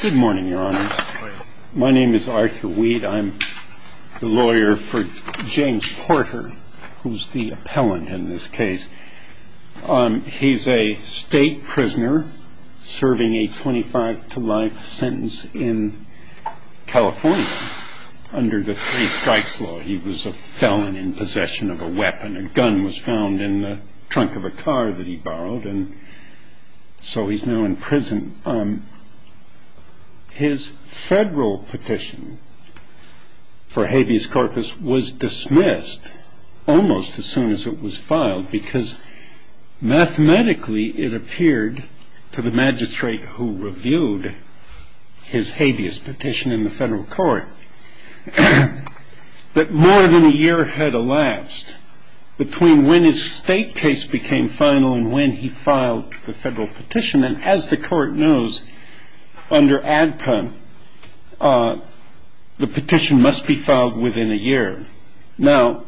Good morning, Your Honor. My name is Arthur Weed. I'm the lawyer for James Porter, who's the appellant in this case. He's a state prisoner serving a 25-to-life sentence in California under the three-strikes law. He was a felon in possession of a weapon. A gun was found in the trunk of a car that he borrowed, and so he's now in prison. His federal petition for habeas corpus was dismissed almost as soon as it was filed, because mathematically it appeared to the magistrate who reviewed his habeas petition in the federal court that more than a year had elapsed between when his state case became final and when he filed the federal petition. And as the court knows, under ADPA the petition must be filed within a year. Now,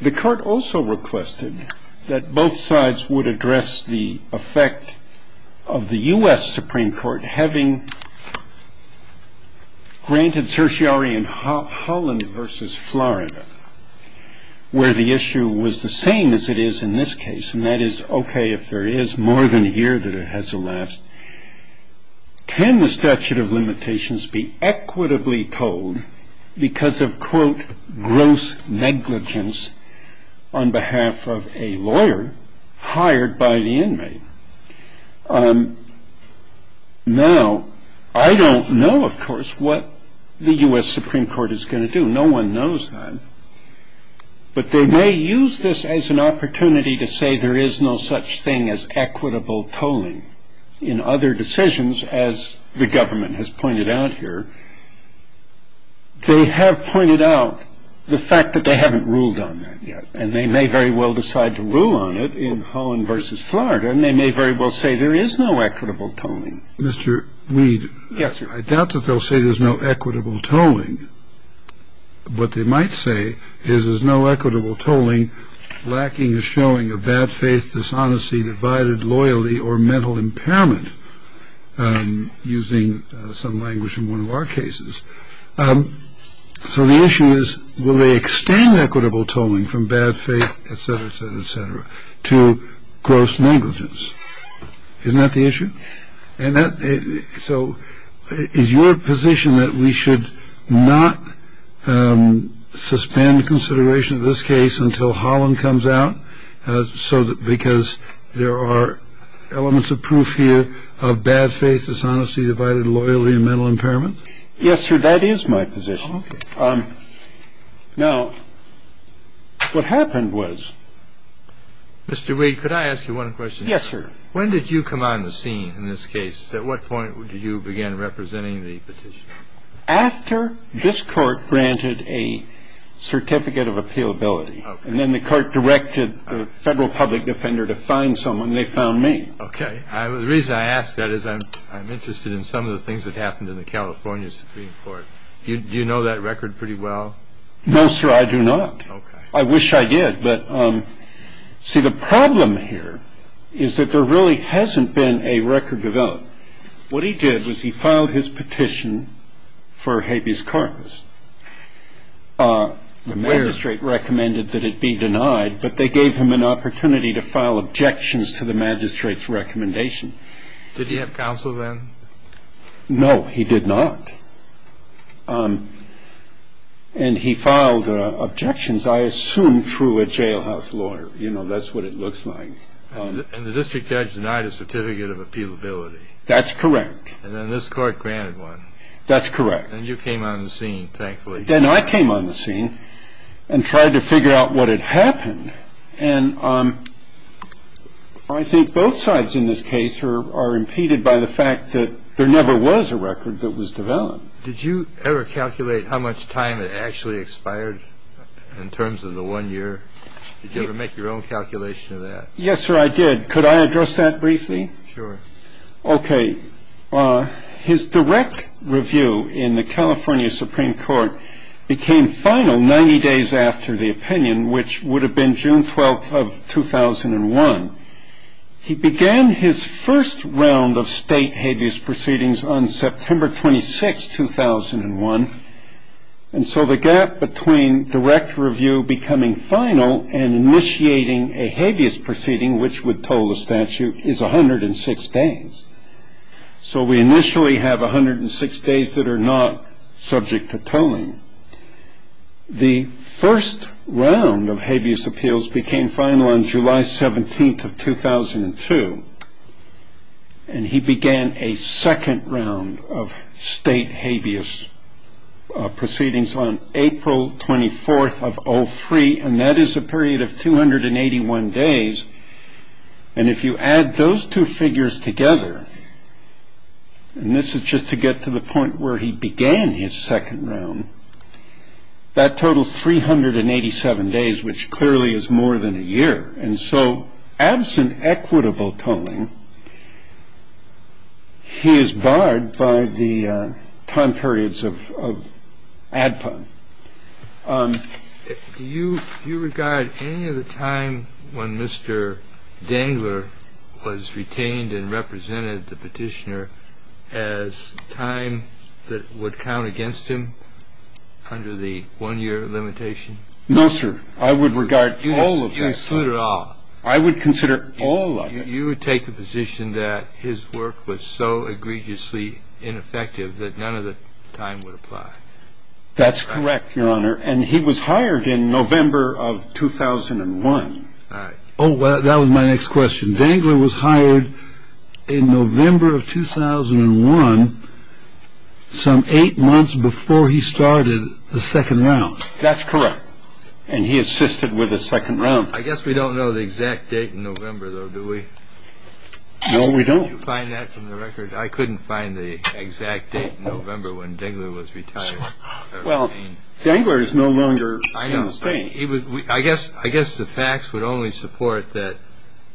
the court also requested that both sides would address the effect of the U.S. Supreme Court that having granted certiorari in Holland v. Florida, where the issue was the same as it is in this case, and that is okay if there is more than a year that it has elapsed, can the statute of limitations be equitably told because of, quote, Now, I don't know, of course, what the U.S. Supreme Court is going to do. No one knows that. But they may use this as an opportunity to say there is no such thing as equitable tolling. In other decisions, as the government has pointed out here, they have pointed out the fact that they haven't ruled on that yet. And they may very well decide to rule on it in Holland v. Florida, and they may very well say there is no equitable tolling. Mr. Weed. Yes, sir. I doubt that they'll say there's no equitable tolling. What they might say is there's no equitable tolling lacking or showing a bad faith, dishonesty, divided loyalty, or mental impairment, using some language in one of our cases. So the issue is, will they extend equitable tolling from bad faith, et cetera, et cetera, et cetera, to gross negligence? Isn't that the issue? So is your position that we should not suspend consideration of this case until Holland comes out, because there are elements of proof here of bad faith, dishonesty, divided loyalty and mental impairment? Yes, sir. That is my position. Now, what happened was. Mr. Weed, could I ask you one question? Yes, sir. When did you come on the scene in this case? At what point did you begin representing the petitioner? After this court granted a certificate of appealability. And then the court directed the federal public defender to find someone, and they found me. Okay. The reason I ask that is I'm interested in some of the things that happened in the California Supreme Court. Do you know that record pretty well? No, sir, I do not. Okay. I wish I did. But, see, the problem here is that there really hasn't been a record developed. What he did was he filed his petition for habeas corpus. The magistrate recommended that it be denied, but they gave him an opportunity to file objections to the magistrate's recommendation. Did he have counsel then? No, he did not. And he filed objections, I assume, through a jailhouse lawyer. You know, that's what it looks like. And the district judge denied a certificate of appealability. That's correct. And then this court granted one. That's correct. And you came on the scene, thankfully. Then I came on the scene and tried to figure out what had happened. And I think both sides in this case are impeded by the fact that there never was a record that was developed. Did you ever calculate how much time it actually expired in terms of the one year? Did you ever make your own calculation of that? Yes, sir, I did. Could I address that briefly? Sure. Okay. His direct review in the California Supreme Court became final 90 days after the opinion, which would have been June 12th of 2001. He began his first round of state habeas proceedings on September 26th, 2001. And so the gap between direct review becoming final and initiating a habeas proceeding, which would toll the statute, is 106 days. So we initially have 106 days that are not subject to tolling. The first round of habeas appeals became final on July 17th of 2002. And he began a second round of state habeas proceedings on April 24th of 03. And that is a period of 281 days. And if you add those two figures together, and this is just to get to the point where he began his second round, that totals 387 days, which clearly is more than a year. And so absent equitable tolling, he is barred by the time periods of ADPA. I'm going to ask you a question. Do you regard any of the time when Mr. Dangler was retained and represented the petitioner as time that would count against him under the one-year limitation? No, sir. I would regard all of that. You would consider all? I would consider all of it. You would take the position that his work was so egregiously ineffective that none of the time would apply. That's correct, Your Honor. And he was hired in November of 2001. Oh, well, that was my next question. Dangler was hired in November of 2001, some eight months before he started the second round. That's correct. And he assisted with the second round. I guess we don't know the exact date in November, though, do we? No, we don't. Do you find that from the record? I couldn't find the exact date in November when Dangler was retired. Well, Dangler is no longer in the state. I guess the facts would only support that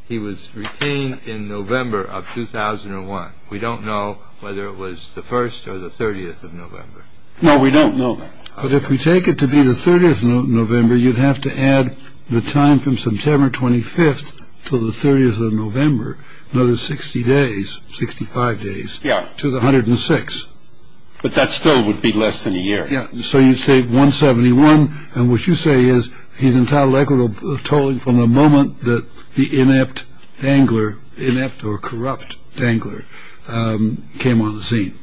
he was retained in November of 2001. We don't know whether it was the 1st or the 30th of November. No, we don't know that. But if we take it to be the 30th of November, you'd have to add the time from September 25th to the 30th of November, another 60 days, 65 days. Yeah. To the 106. But that still would be less than a year. Yeah. So you say 171. And what you say is he's entitled equitable tolling from the moment that the inept Dangler, inept or corrupt Dangler, came on the scene.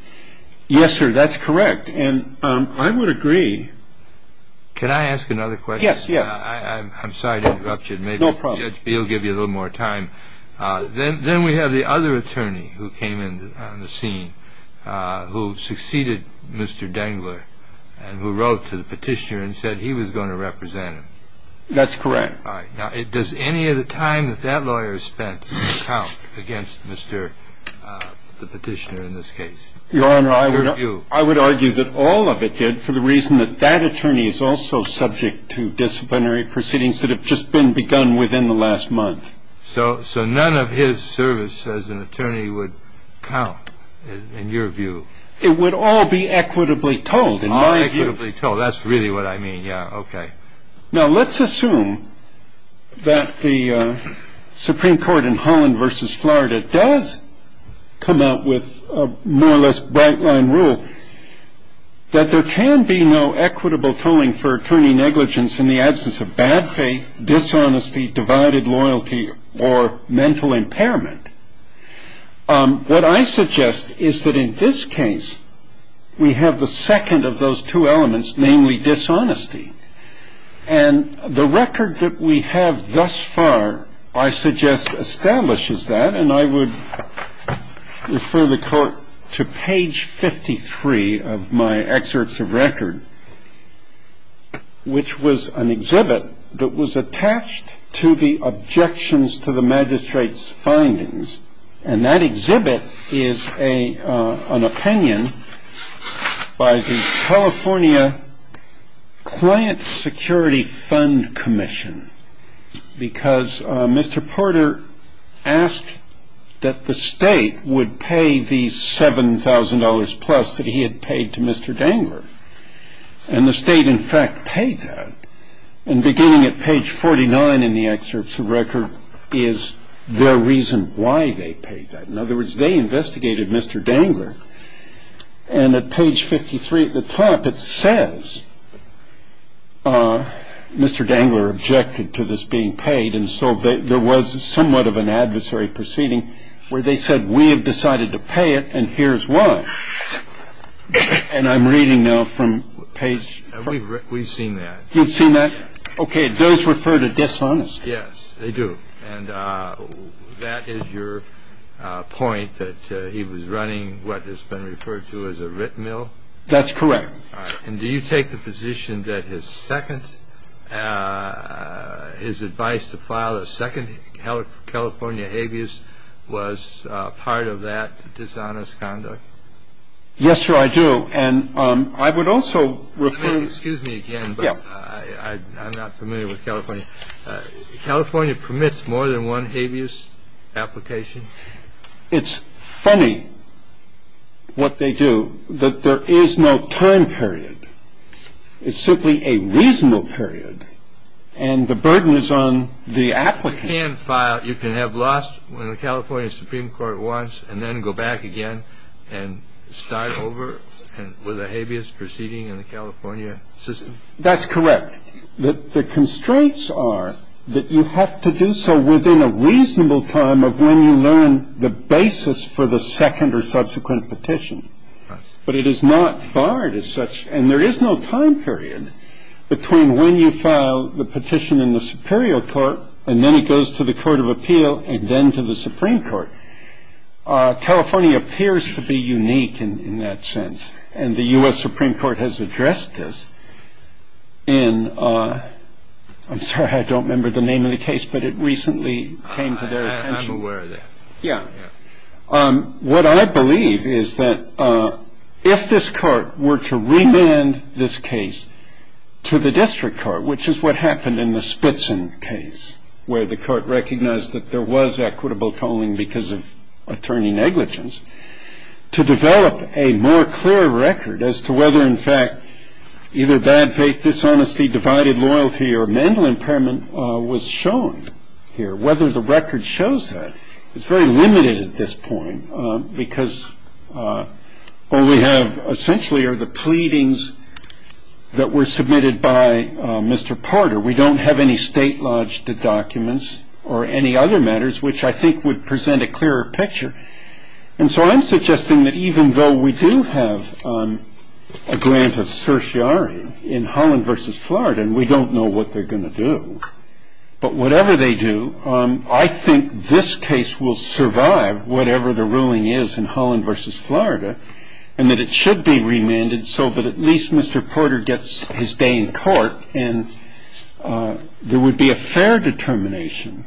Yes, sir. That's correct. And I would agree. Can I ask another question? Yes, yes. I'm sorry to interrupt you. No problem. Maybe Judge Beal will give you a little more time. Then we have the other attorney who came in on the scene who succeeded Mr. Dangler and who wrote to the petitioner and said he was going to represent him. That's correct. All right. Now, does any of the time that that lawyer spent count against Mr. the petitioner in this case? Your Honor, I would argue that all of it did for the reason that that attorney is also subject to disciplinary proceedings that have just been begun within the last month. So so none of his service as an attorney would count in your view. It would all be equitably told. Equitably told. That's really what I mean. Yeah. OK. Now, let's assume that the Supreme Court in Holland versus Florida does come out with a more or less bright line rule that there can be no equitable tolling for attorney negligence in the absence of bad faith, dishonesty, divided loyalty or mental impairment. What I suggest is that in this case, we have the second of those two elements, namely dishonesty. And the record that we have thus far, I suggest, establishes that. And I would refer the court to page 53 of my excerpts of record, which was an exhibit that was attached to the objections to the magistrate's findings. And that exhibit is a an opinion by the California Client Security Fund Commission, because Mr. Porter asked that the state would pay the seven thousand dollars plus that he had paid to Mr. Dangler. And the state, in fact, paid. And beginning at page forty nine in the excerpts of record is their reason why they paid that. In other words, they investigated Mr. Dangler. And at page fifty three at the top, it says Mr. Dangler objected to this being paid. And so there was somewhat of an adversary proceeding where they said, we have decided to pay it. And here's why. And I'm reading now from page. We've seen that you've seen that. OK. Does refer to dishonest. Yes, they do. And that is your point that he was running what has been referred to as a written mill. That's correct. And do you take the position that his second his advice to file a second California habeas was part of that dishonest conduct? Yes, sir. And I would also. Excuse me again. I'm not familiar with California. California permits more than one habeas application. It's funny what they do, that there is no time period. It's simply a reasonable period. And the burden is on the applicant. You can file. You can have lost the California Supreme Court once and then go back again and start over with a habeas proceeding in the California system. That's correct. The constraints are that you have to do so within a reasonable time of when you learn the basis for the second or subsequent petition. But it is not barred as such. And there is no time period between when you file the petition in the superior court and then it goes to the court of appeal and then to the Supreme Court. California appears to be unique in that sense. And the U.S. Supreme Court has addressed this in I'm sorry, I don't remember the name of the case, but it recently came to their attention. I'm aware of that. Yeah. What I believe is that if this court were to remand this case to the district court, which is what happened in the Spitzen case where the court recognized that there was equitable tolling because of attorney negligence, to develop a more clear record as to whether in fact either bad faith, dishonesty, divided loyalty or mental impairment was shown here, whether the record shows that. It's very limited at this point because all we have essentially are the pleadings that were submitted by Mr. Porter. We don't have any state lodged documents or any other matters which I think would present a clearer picture. And so I'm suggesting that even though we do have a grant of certiorari in Holland versus Florida, and we don't know what they're going to do, but whatever they do, I think this case will survive whatever the ruling is in Holland versus Florida, and that it should be remanded so that at least Mr. Porter gets his day in court and there would be a fair determination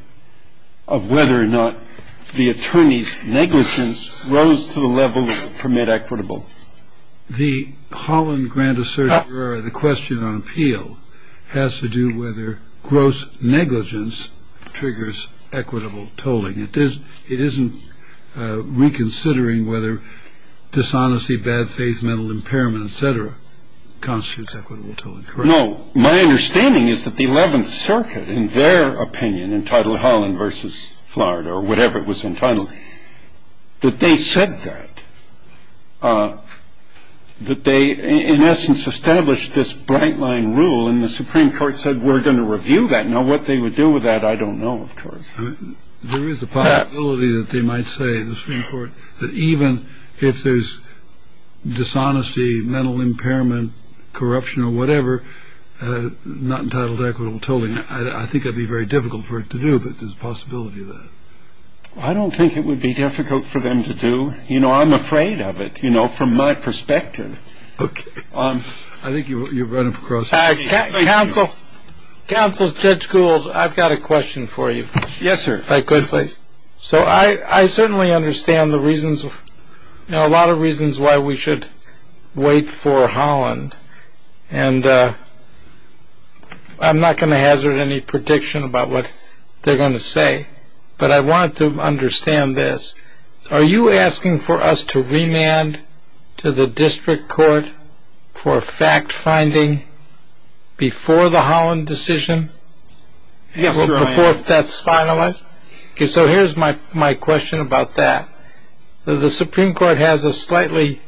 of whether or not the attorney's negligence rose to the level that would permit equitable. The Holland grant of certiorari, the question on appeal, has to do whether gross negligence triggers equitable tolling. It isn't reconsidering whether dishonesty, bad faith, mental impairment, et cetera, constitutes equitable tolling, correct? No. My understanding is that the 11th Circuit, in their opinion, entitled Holland versus Florida, or whatever it was entitled, that they said that, that they, in essence, established this bright line rule, and the Supreme Court said we're going to review that. Now, what they would do with that, I don't know, of course. There is a possibility that they might say, the Supreme Court, that even if there's dishonesty, mental impairment, corruption, or whatever, not entitled to equitable tolling, I think it would be very difficult for it to do, but there's a possibility of that. I don't think it would be difficult for them to do. You know, I'm afraid of it, you know, from my perspective. Okay. I think you've run across. Counsel, Judge Gould, I've got a question for you. Yes, sir. If I could, please. So I certainly understand the reasons, a lot of reasons why we should wait for Holland, and I'm not going to hazard any prediction about what they're going to say, but I want to understand this. Are you asking for us to remand to the district court for fact-finding before the Holland decision? Yes, sir, I am. Before that's finalized? Okay, so here's my question about that. The Supreme Court has a slightly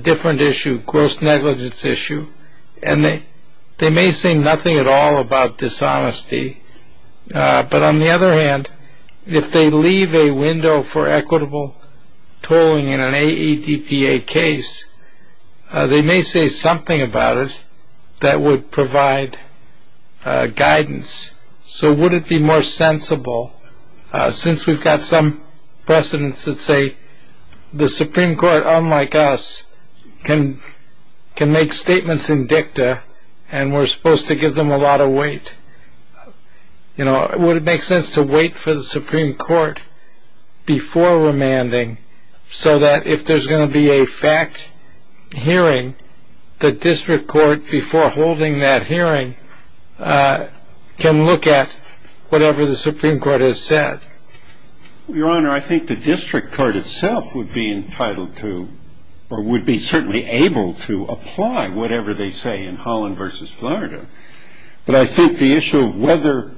different issue, gross negligence issue, and they may say nothing at all about dishonesty, but on the other hand, if they leave a window for equitable tolling in an AEDPA case, they may say something about it that would provide guidance. So would it be more sensible, since we've got some precedents that say the Supreme Court, unlike us, can make statements in dicta and we're supposed to give them a lot of weight, you know, would it make sense to wait for the Supreme Court before remanding so that if there's going to be a fact hearing, the district court before holding that hearing can look at whatever the Supreme Court has said? Your Honor, I think the district court itself would be entitled to or would be certainly able to apply whatever they say in Holland v. Florida, but I think the issue of whether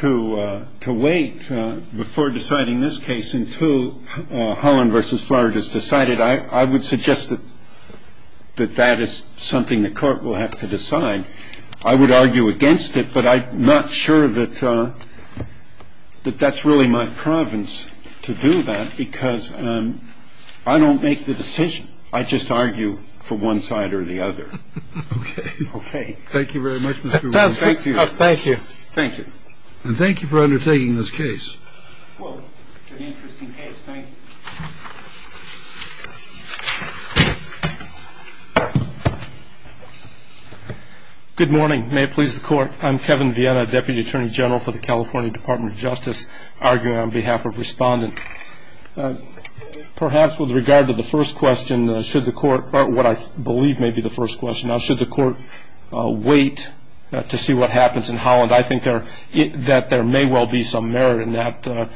to wait before deciding this case until Holland v. Florida is decided, I would suggest that that is something the court will have to decide. I would argue against it, but I'm not sure that that's really my province to do that, because I don't make the decision. I just argue for one side or the other. Okay. Okay. Thank you very much. Thank you. Thank you. And thank you for undertaking this case. Well, it's an interesting case. Thank you. Good morning. May it please the Court. I'm Kevin Viena, Deputy Attorney General for the California Department of Justice, arguing on behalf of Respondent. Perhaps with regard to the first question, should the Court, or what I believe may be the first question, should the Court wait to see what happens in Holland? I think that there may well be some merit in that.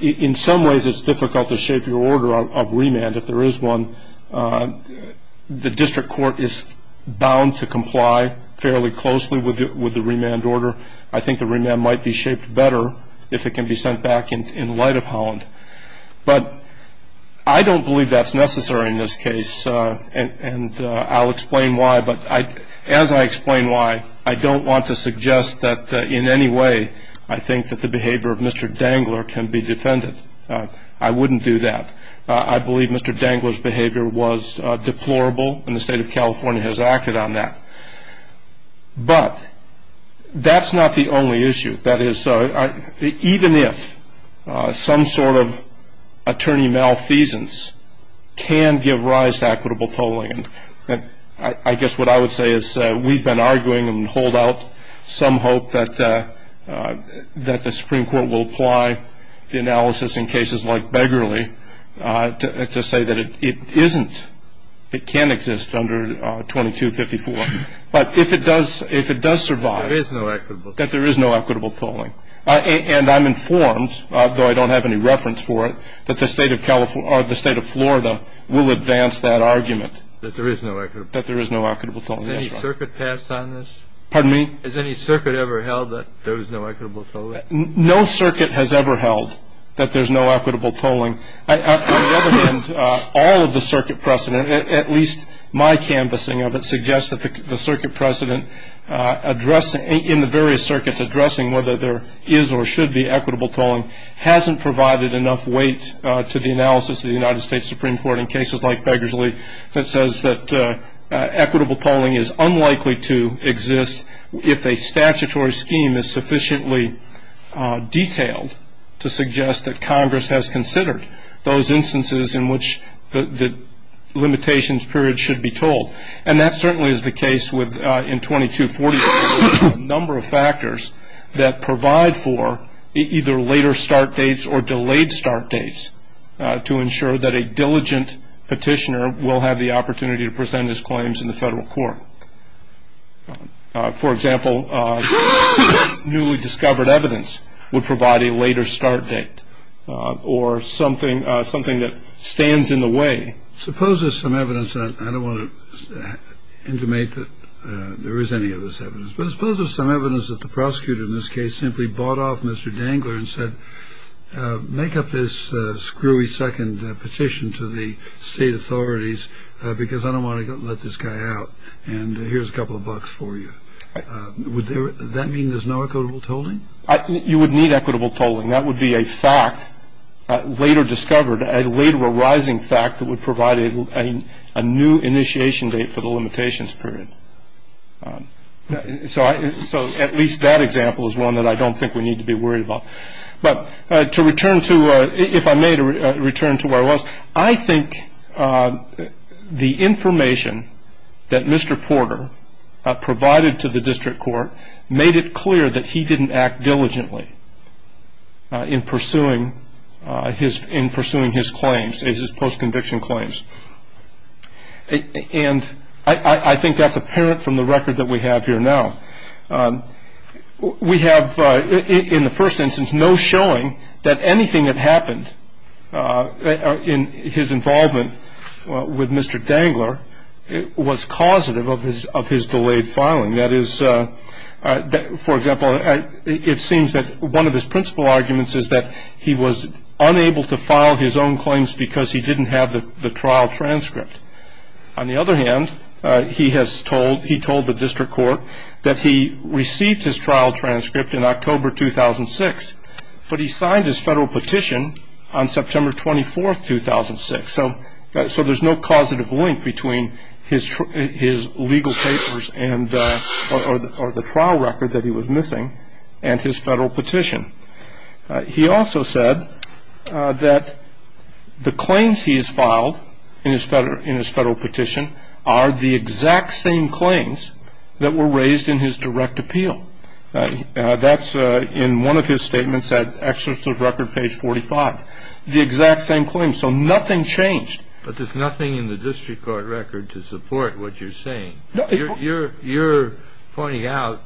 In some ways it's difficult to shape your order of remand if there is one. The district court is bound to comply fairly closely with the remand order. I think the remand might be shaped better if it can be sent back in light of Holland. But I don't believe that's necessary in this case, and I'll explain why. But as I explain why, I don't want to suggest that in any way I think that the behavior of Mr. Dangler can be defended. I wouldn't do that. I believe Mr. Dangler's behavior was deplorable, and the State of California has acted on that. But that's not the only issue. That is, even if some sort of attorney malfeasance can give rise to equitable tolling, I guess what I would say is we've been arguing and hold out some hope that the Supreme Court will apply the analysis in cases like Beggarly to say that it isn't. It can't exist under 2254. But if it does survive, that there is no equitable tolling. And I'm informed, though I don't have any reference for it, that the State of Florida will advance that argument. That there is no equitable tolling. That there is no equitable tolling. Has any circuit passed on this? Pardon me? Has any circuit ever held that there is no equitable tolling? No circuit has ever held that there's no equitable tolling. On the other hand, all of the circuit precedent, at least my canvassing of it, in the various circuits addressing whether there is or should be equitable tolling hasn't provided enough weight to the analysis of the United States Supreme Court in cases like Beggarly that says that equitable tolling is unlikely to exist if a statutory scheme is sufficiently detailed to suggest that Congress has considered those instances in which the limitations period should be told. And that certainly is the case with, in 2254, a number of factors that provide for either later start dates or delayed start dates to ensure that a diligent petitioner will have the opportunity to present his claims in the federal court. For example, newly discovered evidence would provide a later start date or something that stands in the way. Suppose there's some evidence, and I don't want to intimate that there is any of this evidence, but suppose there's some evidence that the prosecutor in this case simply bought off Mr. Dangler and said make up this screwy second petition to the state authorities because I don't want to let this guy out and here's a couple of bucks for you. Would that mean there's no equitable tolling? You would need equitable tolling. That would be a fact later discovered, a later arising fact that would provide a new initiation date for the limitations period. So at least that example is one that I don't think we need to be worried about. But to return to, if I may, to return to where I was, I think the information that Mr. Porter provided to the district court made it clear that he didn't act diligently in pursuing his claims, his post-conviction claims. And I think that's apparent from the record that we have here now. We have, in the first instance, no showing that anything that happened in his involvement with Mr. Dangler was causative of his delayed filing. That is, for example, it seems that one of his principal arguments is that he was unable to file his own claims because he didn't have the trial transcript. On the other hand, he told the district court that he received his trial transcript in October 2006, but he signed his federal petition on September 24, 2006. So there's no causative link between his legal papers or the trial record that he was missing and his federal petition. He also said that the claims he has filed in his federal petition are the exact same claims that were raised in his direct appeal. That's in one of his statements at Executive Record, page 45. The exact same claims. So nothing changed. But there's nothing in the district court record to support what you're saying. You're pointing out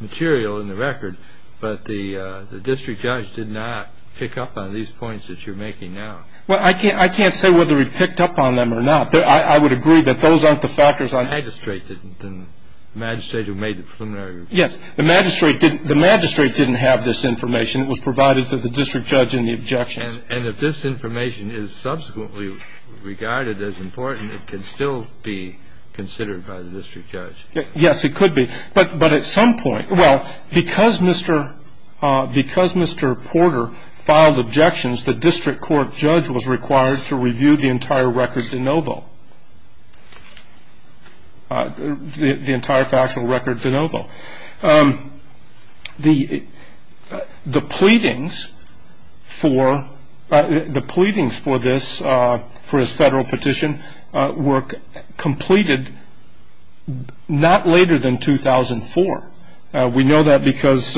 material in the record, but the district judge did not pick up on these points that you're making now. Well, I can't say whether he picked up on them or not. I would agree that those aren't the factors. The magistrate didn't. The magistrate who made the preliminary report. Yes. The magistrate didn't have this information. It was provided to the district judge in the objections. And if this information is subsequently regarded as important, it can still be considered by the district judge. Yes, it could be. But at some point, well, because Mr. Porter filed objections, the district court judge was required to review the entire record de novo, the entire factual record de novo. The pleadings for this, for his federal petition, were completed not later than 2004. We know that because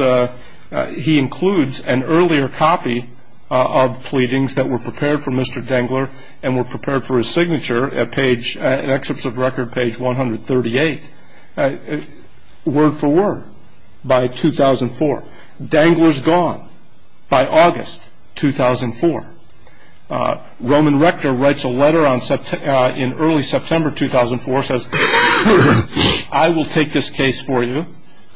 he includes an earlier copy of pleadings that were prepared for Mr. Dengler and were prepared for his signature in excerpts of record page 138, word for word, by 2004. Dengler's gone by August 2004. Roman Rector writes a letter in early September 2004, says, I will take this case for you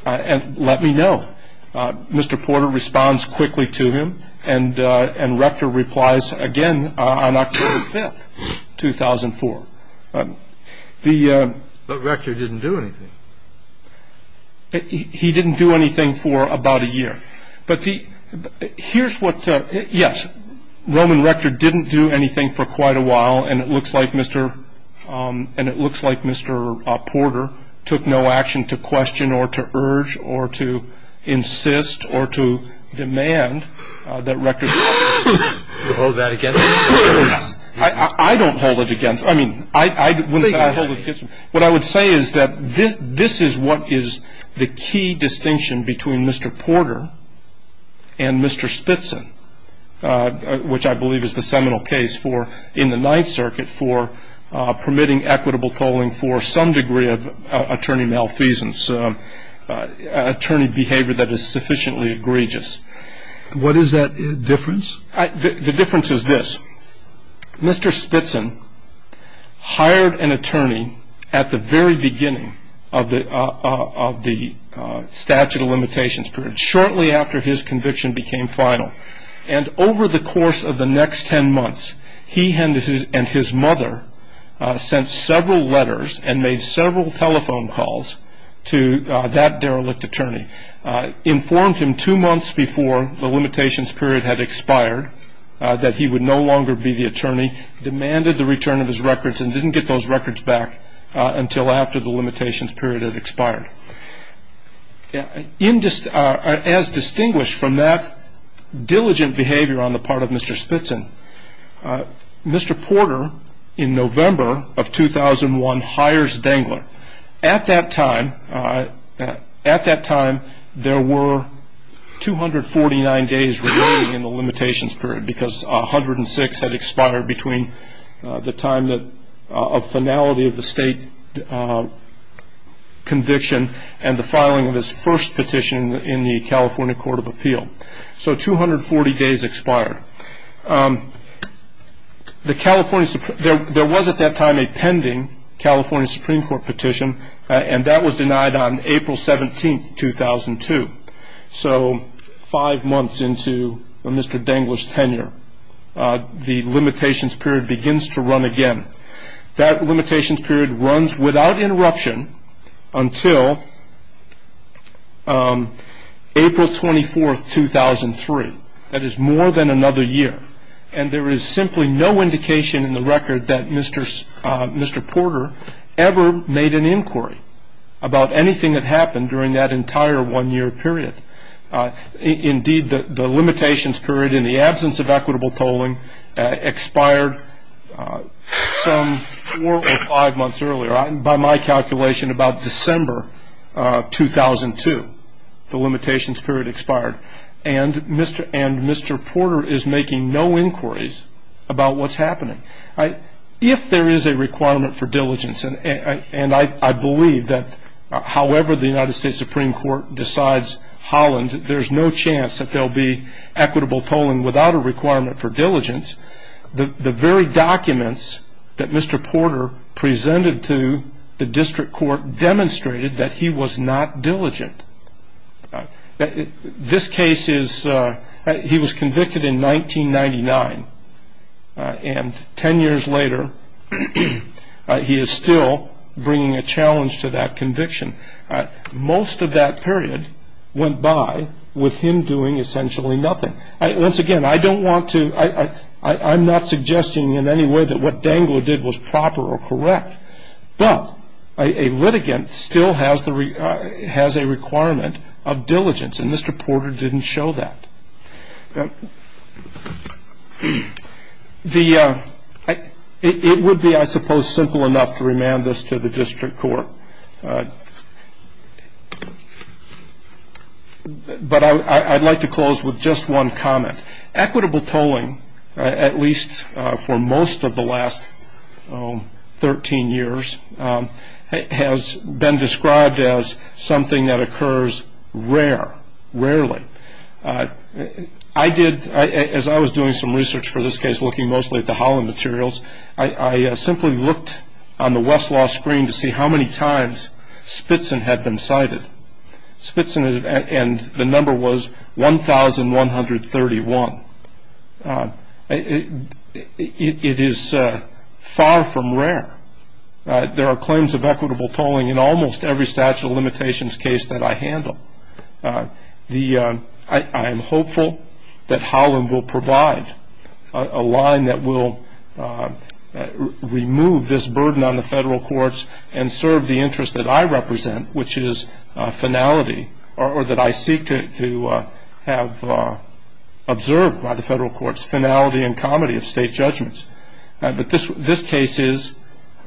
and let me know. Mr. Porter responds quickly to him, and Rector replies again on October 5th, 2004. But Rector didn't do anything. He didn't do anything for about a year. But here's what the ‑‑ yes, Roman Rector didn't do anything for quite a while, and it looks like Mr. Porter took no action to question or to urge or to insist or to demand that Rector ‑‑ Do you hold that against him? I don't hold it against him. I mean, I wouldn't say I hold it against him. What I would say is that this is what is the key distinction between Mr. Porter and Mr. Spitson, which I believe is the seminal case in the Ninth Circuit for permitting equitable tolling for some degree of attorney malfeasance, attorney behavior that is sufficiently egregious. What is that difference? The difference is this. Mr. Spitson hired an attorney at the very beginning of the statute of limitations period, shortly after his conviction became final. And over the course of the next ten months, he and his mother sent several letters and made several telephone calls to that derelict attorney, informed him two months before the limitations period had expired that he would no longer be the attorney, demanded the return of his records and didn't get those records back until after the limitations period had expired. As distinguished from that diligent behavior on the part of Mr. Spitson, Mr. Porter, in November of 2001, hires Dangler. At that time, there were 249 days remaining in the limitations period because 106 had expired between the time of finality of the state conviction and the filing of his first petition in the California Court of Appeal. So 240 days expired. There was at that time a pending California Supreme Court petition, and that was denied on April 17, 2002. So five months into Mr. Dangler's tenure, the limitations period begins to run again. That limitations period runs without interruption until April 24, 2003. That is more than another year, and there is simply no indication in the record that Mr. Porter ever made an inquiry about anything that happened during that entire one-year period. Indeed, the limitations period in the absence of equitable tolling expired some four or five months earlier. By my calculation, about December 2002, the limitations period expired, and Mr. Porter is making no inquiries about what's happening. If there is a requirement for diligence, and I believe that however the United States Supreme Court decides Holland, there's no chance that there will be equitable tolling without a requirement for diligence, the very documents that Mr. Porter presented to the district court demonstrated that he was not diligent. This case is, he was convicted in 1999, and ten years later he is still bringing a challenge to that conviction. Most of that period went by with him doing essentially nothing. Once again, I don't want to, I'm not suggesting in any way that what Dangler did was proper or correct, but a litigant still has a requirement of diligence, and Mr. Porter didn't show that. It would be, I suppose, simple enough to remand this to the district court, but I'd like to close with just one comment. Equitable tolling, at least for most of the last 13 years, has been described as something that occurs rare, rarely. I did, as I was doing some research for this case, looking mostly at the Holland materials, I simply looked on the Westlaw screen to see how many times Spitson had been cited. Spitson, and the number was 1,131. It is far from rare. There are claims of equitable tolling in almost every statute of limitations case that I handle. I am hopeful that Holland will provide a line that will remove this burden on the federal courts and serve the interest that I represent, which is finality, or that I seek to have observed by the federal courts, finality and comity of state judgments. But this case is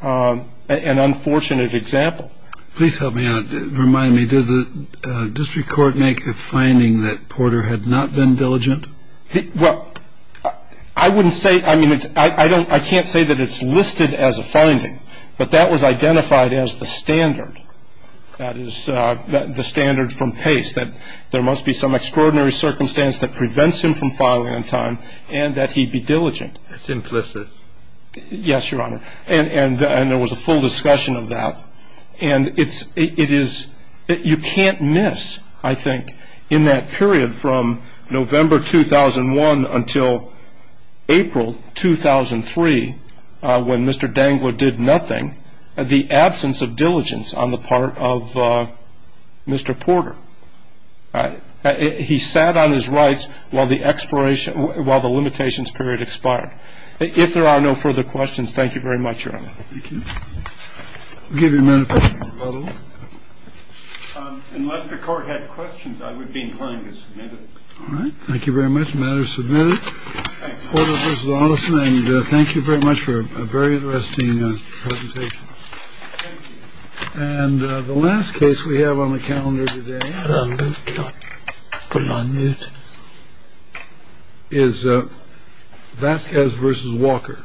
an unfortunate example. Please help me out. Remind me, did the district court make a finding that Porter had not been diligent? Well, I wouldn't say, I mean, I can't say that it's listed as a finding, but that was identified as the standard, that is, the standard from Pace, that there must be some extraordinary circumstance that prevents him from filing on time and that he be diligent. It's implicit. Yes, Your Honor. And there was a full discussion of that. And it is, you can't miss, I think, in that period from November 2001 until April 2003, when Mr. Dangler did nothing, the absence of diligence on the part of Mr. Porter. He sat on his rights while the limitations period expired. If there are no further questions, thank you very much, Your Honor. Thank you. We'll give you a minute for questions. Unless the Court had questions, I would be inclined to submit it. All right. Thank you very much. The matter is submitted. Thank you. Thank you very much for a very interesting presentation. And the last case we have on the calendar today is Vasquez versus Walker.